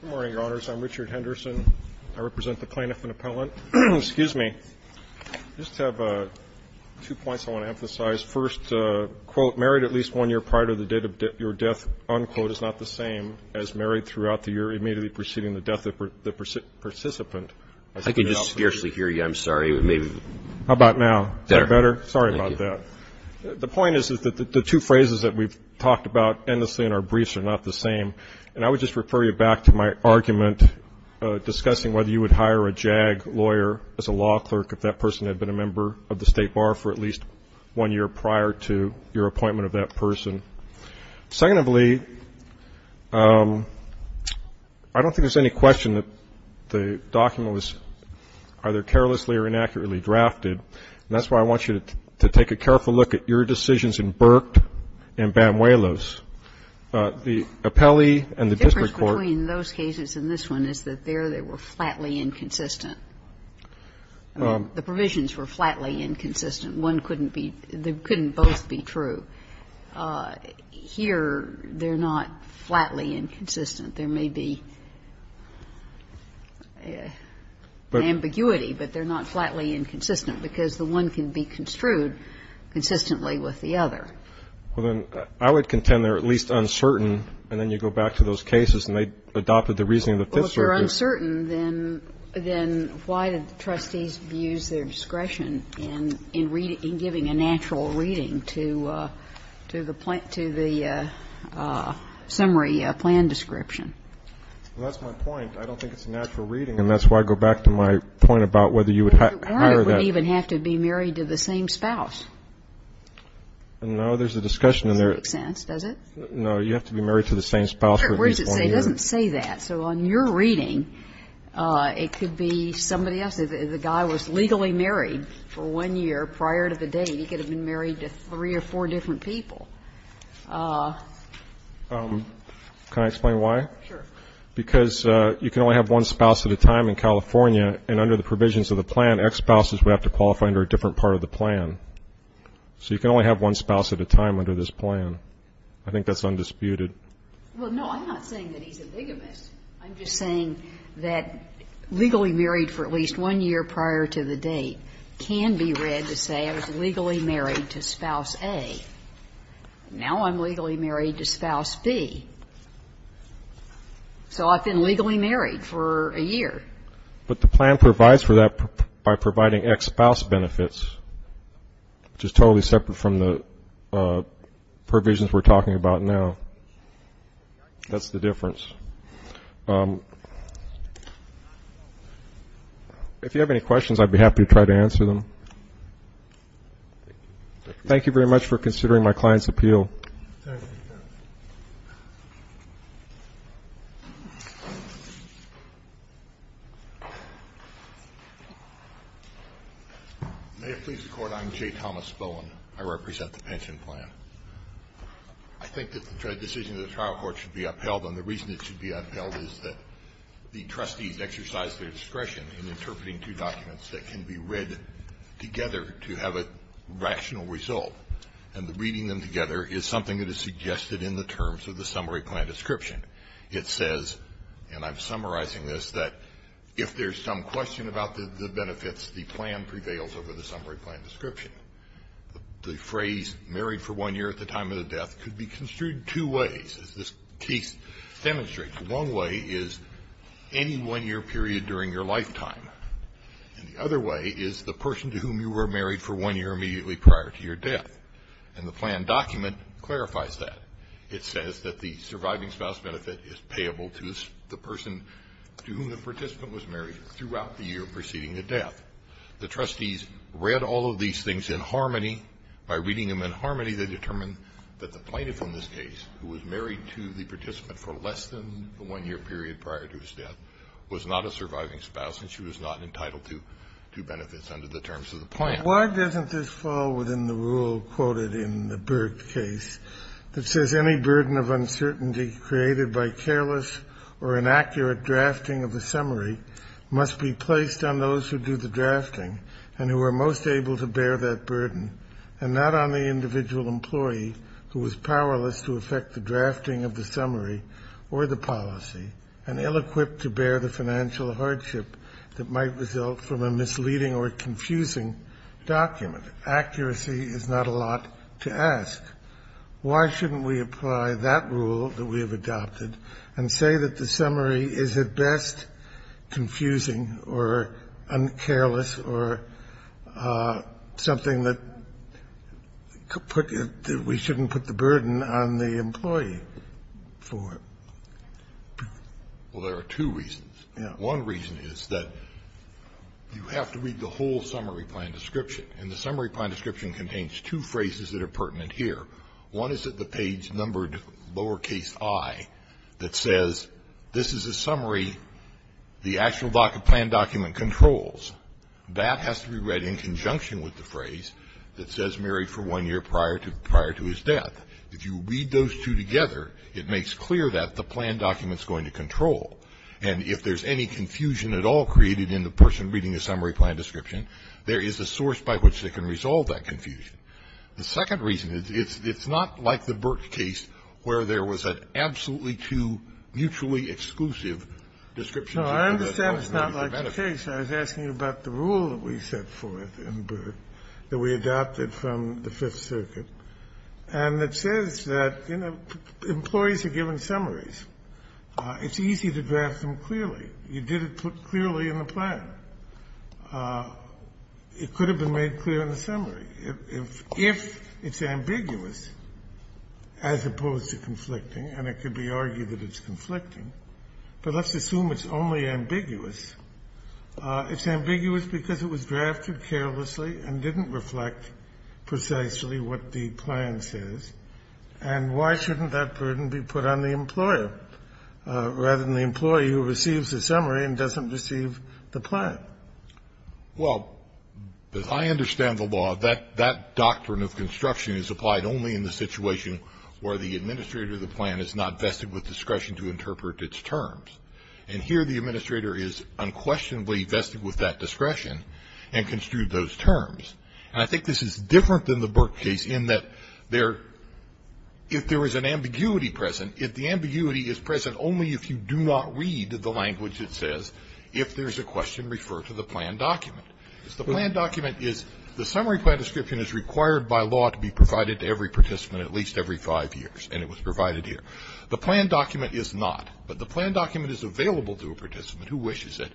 Good morning, Your Honors. I'm Richard Henderson. I represent the Plaintiff and Appellant. Excuse me. I just have two points I want to emphasize. First, quote, married at least one year prior to the date of your death, unquote, is not the same as married throughout the year immediately preceding the death of the participant. I can just scarcely hear you. I'm sorry. How about now? Is that better? Sorry about that. The point is that the two phrases that we've talked about endlessly in our briefs are not the same, and I would just refer you back to my argument discussing whether you would hire a JAG lawyer as a law clerk if that person had been a member of the State Bar for at least one year prior to your appointment of that person. Secondly, I don't think there's any question that the document was either carelessly or inaccurately drafted, and that's why I want you to take a careful look at your decisions in Burke and Banuelos. The appellee and the district court. The difference between those cases and this one is that there they were flatly inconsistent. The provisions were flatly inconsistent. One couldn't be — they couldn't both be true. Here, they're not flatly inconsistent. There may be ambiguity, but they're not flatly inconsistent because the one can be construed consistently with the other. Well, then, I would contend they're at least uncertain. And then you go back to those cases, and they adopted the reasoning of the Fifth Circuit. Well, if they're uncertain, then why did the trustees use their discretion in giving a natural reading to the summary plan description? Well, that's my point. I don't think it's a natural reading. And that's why I go back to my point about whether you would hire that. Why would it even have to be married to the same spouse? No, there's a discussion in there. It doesn't make sense, does it? No. You have to be married to the same spouse for at least one year. It doesn't say that. So on your reading, it could be somebody else. The guy was legally married for one year prior to the date. He could have been married to three or four different people. Can I explain why? Sure. Because you can only have one spouse at a time in California, and under the provisions of the plan, ex-spouses would have to qualify under a different part of the plan. So you can only have one spouse at a time under this plan. I think that's undisputed. Well, no, I'm not saying that he's a bigamist. I'm just saying that legally married for at least one year prior to the date can be read to say I was legally married to spouse A. Now I'm legally married to spouse B. So I've been legally married for a year. But the plan provides for that by providing ex-spouse benefits, which is totally separate from the provisions we're talking about now. That's the difference. If you have any questions, I'd be happy to try to answer them. Thank you. Thank you very much for considering my client's appeal. Thank you. May it please the Court, I'm J. Thomas Bowen. I represent the pension plan. I think that the decision of the trial court should be upheld, and the reason it should be upheld is that the trustees exercise their discretion in interpreting two documents that can be read together to have a rational result. And reading them together is something that is suggested in the terms of the summary plan description. It says, and I'm summarizing this, that if there's some question about the benefits, the plan prevails over the summary plan description. The phrase married for one year at the time of the death could be construed two ways, as this case demonstrates. One way is any one-year period during your lifetime. And the other way is the person to whom you were married for one year immediately prior to your death. And the plan document clarifies that. It says that the surviving spouse benefit is payable to the person to whom the participant was married throughout the year preceding the death. The trustees read all of these things in harmony. By reading them in harmony, they determined that the plaintiff in this case, who was married to the participant for less than the one-year period prior to his death, was not a surviving spouse and she was not entitled to benefits under the terms of the plan. Why doesn't this fall within the rule quoted in the Berg case that says any burden of uncertainty created by careless or inaccurate drafting of the summary must be placed on those who do the drafting and who are most able to bear that burden and not on the summary or the policy and ill-equipped to bear the financial hardship that might result from a misleading or confusing document? Accuracy is not a lot to ask. Why shouldn't we apply that rule that we have adopted and say that the summary is at best confusing or careless or something that we shouldn't put the burden on the employee for? Well, there are two reasons. One reason is that you have to read the whole summary plan description, and the summary plan description contains two phrases that are pertinent here. One is at the page numbered lowercase i that says this is a summary the actual plan document controls. That has to be read in conjunction with the phrase that says married for one year prior to his death. If you read those two together, it makes clear that the plan document is going to control. And if there is any confusion at all created in the person reading the summary plan description, there is a source by which they can resolve that confusion. The second reason is it's not like the Berg case where there was an absolutely two mutually exclusive description. No, I understand it's not like the case. I was asking about the rule that we set forth in Berg that we adopted from the Fifth Circuit, and that says that, you know, employees are given summaries. It's easy to draft them clearly. You did it clearly in the plan. It could have been made clear in the summary. If it's ambiguous, as opposed to conflicting, and it could be argued that it's conflicting, but let's assume it's only ambiguous, it's ambiguous because it was drafted carelessly and didn't reflect precisely what the plan says, and why shouldn't that burden be put on the employer rather than the employee who receives the summary and doesn't receive the plan? Well, as I understand the law, that doctrine of construction is applied only in the situation where the administrator of the plan is not vested with discretion to interpret its terms. And here the administrator is unquestionably vested with that discretion and construed those terms. And I think this is different than the Berg case in that there, if there is an ambiguity present, if the ambiguity is present only if you do not read the language it says, if there's a question, refer to the plan document. If the plan document is, the summary plan description is required by law to be provided to every participant at least every five years, and it was provided here. The plan document is not, but the plan document is available to a participant who wishes it.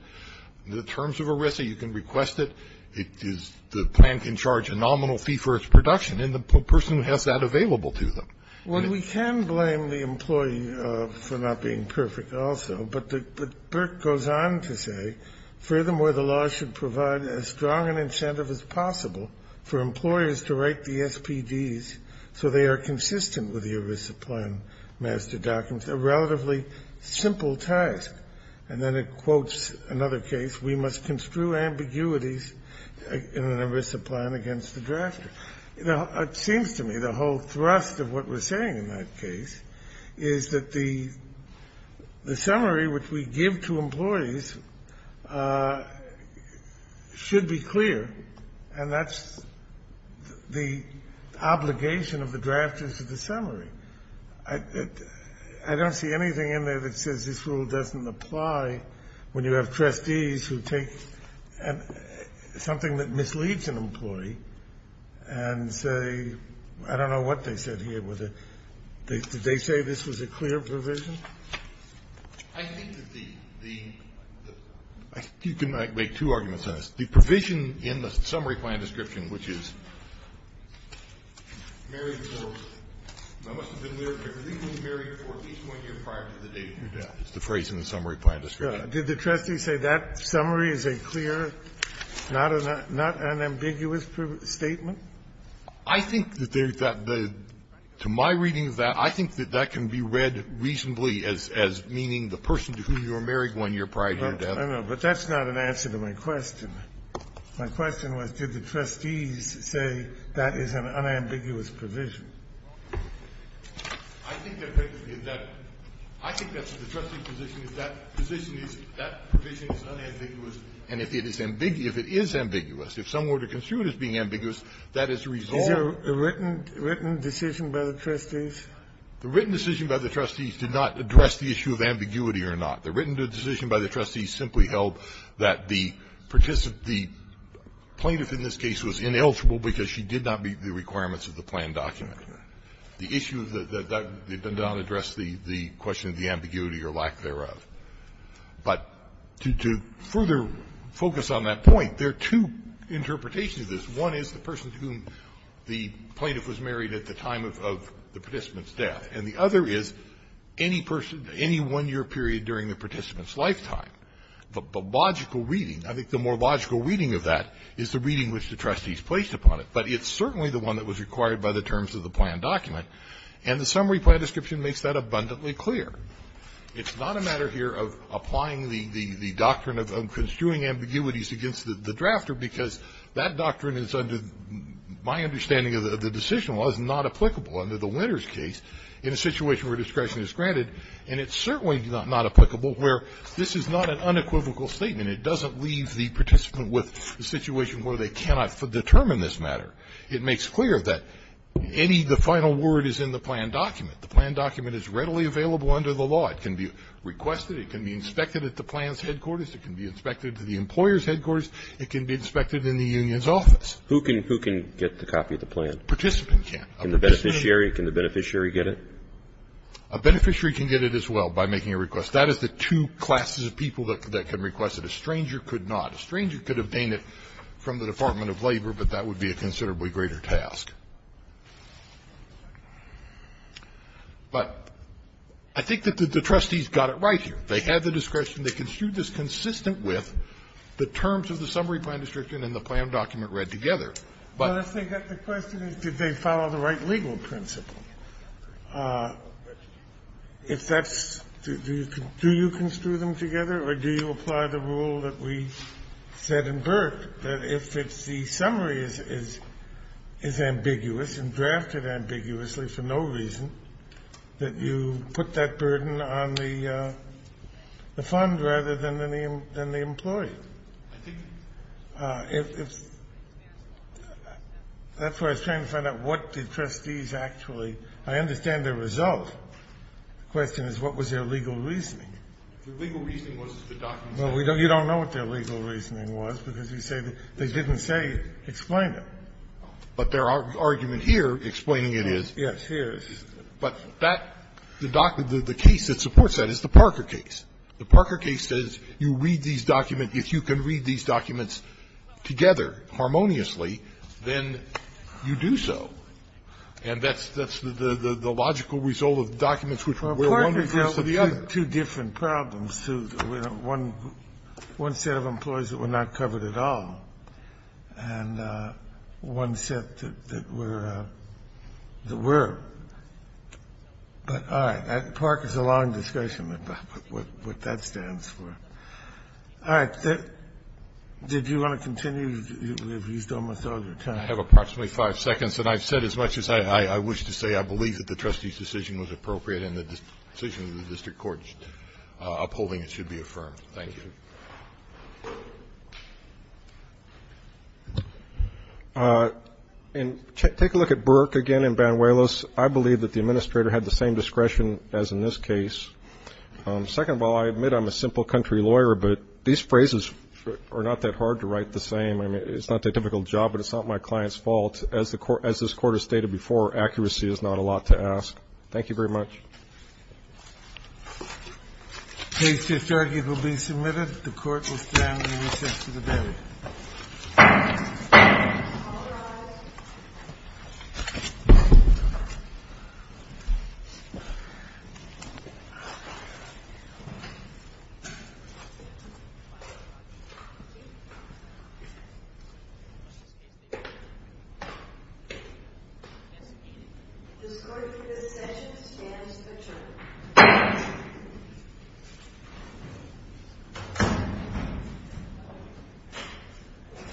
The terms of ERISA, you can request it. It is, the plan can charge a nominal fee for its production, and the person has that available to them. Well, we can blame the employee for not being perfect also. But the, but Berg goes on to say, furthermore, the law should provide as strong an incentive as possible for employers to write the SPDs so they are consistent with the ERISA plan master documents, a relatively simple task. And then it quotes another case, we must construe ambiguities in an ERISA plan against the drafter. It seems to me the whole thrust of what we're saying in that case is that the summary which we give to employees should be clear, and that's the obligation of the drafters to the summary. I don't see anything in there that says this rule doesn't apply when you have trustees who take something that misleads an employee and say, I don't know what they said here. Did they say this was a clear provision? I think that the, you can make two arguments on this. The provision in the summary plan description, which is married for at least one year prior to the date of your death, is the phrase in the summary plan description. Did the trustee say that summary is a clear, not an ambiguous statement? I think that there's that. To my reading of that, I think that that can be read reasonably as meaning the person I know, but that's not an answer to my question. My question was, did the trustees say that is an unambiguous provision? I think that basically is that. I think that the trustee's position is that position is that provision is unambiguous, and if it is ambiguous, if it is ambiguous, if some order construed as being ambiguous, that is resolved. Is there a written decision by the trustees? The written decision by the trustees did not address the issue of ambiguity or not. The written decision by the trustees simply held that the plaintiff in this case was ineligible because she did not meet the requirements of the plan document. The issue of that did not address the question of the ambiguity or lack thereof. But to further focus on that point, there are two interpretations of this. One is the person to whom the plaintiff was married at the time of the participant's lifetime. The logical reading, I think the more logical reading of that is the reading which the trustees placed upon it, but it's certainly the one that was required by the terms of the plan document, and the summary plan description makes that abundantly clear. It's not a matter here of applying the doctrine of construing ambiguities against the drafter because that doctrine is under my understanding of the decision was not applicable under the Winters case in a situation where discretion is granted. And it's certainly not applicable where this is not an unequivocal statement. It doesn't leave the participant with a situation where they cannot determine this matter. It makes clear that any of the final word is in the plan document. The plan document is readily available under the law. It can be requested. It can be inspected at the plan's headquarters. It can be inspected at the employer's headquarters. It can be inspected in the union's office. Who can get the copy of the plan? Participant can. Can the beneficiary get it? A beneficiary can get it as well by making a request. That is the two classes of people that can request it. A stranger could not. A stranger could obtain it from the Department of Labor, but that would be a considerably greater task. But I think that the trustees got it right here. They had the discretion. They construed this consistent with the terms of the summary plan description and the plan document read together. But I think that the question is did they follow the right legal principle? If that's do you construe them together or do you apply the rule that we said in Burke that if the summary is ambiguous and drafted ambiguously for no reason, that you put that burden on the fund rather than the employee? I think that's where I was trying to find out what the trustees actually – I understand the result. The question is what was their legal reasoning. The legal reasoning was that the document said that. Well, you don't know what their legal reasoning was because you say they didn't say explain it. But their argument here explaining it is. Yes, here is. But that – the case that supports that is the Parker case. The Parker case says you read these documents. If you can read these documents together harmoniously, then you do so. And that's the logical result of documents which were one versus the other. Two different problems. One set of employees that were not covered at all and one set that were – that were. But all right. Parker is a long discussion about what that stands for. All right. Did you want to continue? You've used almost all your time. I have approximately five seconds. And I've said as much as I wish to say I believe that the trustees' decision was appropriate and the decision of the district court upholding it should be affirmed. Thank you. And take a look at Burke again and Banuelos. I believe that the administrator had the same discretion as in this case. Second of all, I admit I'm a simple country lawyer, but these phrases are not that hard to write the same. I mean, it's not the typical job, but it's not my client's fault. As this Court has stated before, accuracy is not a lot to ask. Thank you very much. The case just argued will be submitted. The Court will stand in recess to the day. All rise. The score for this session stands adjourned. Thank you.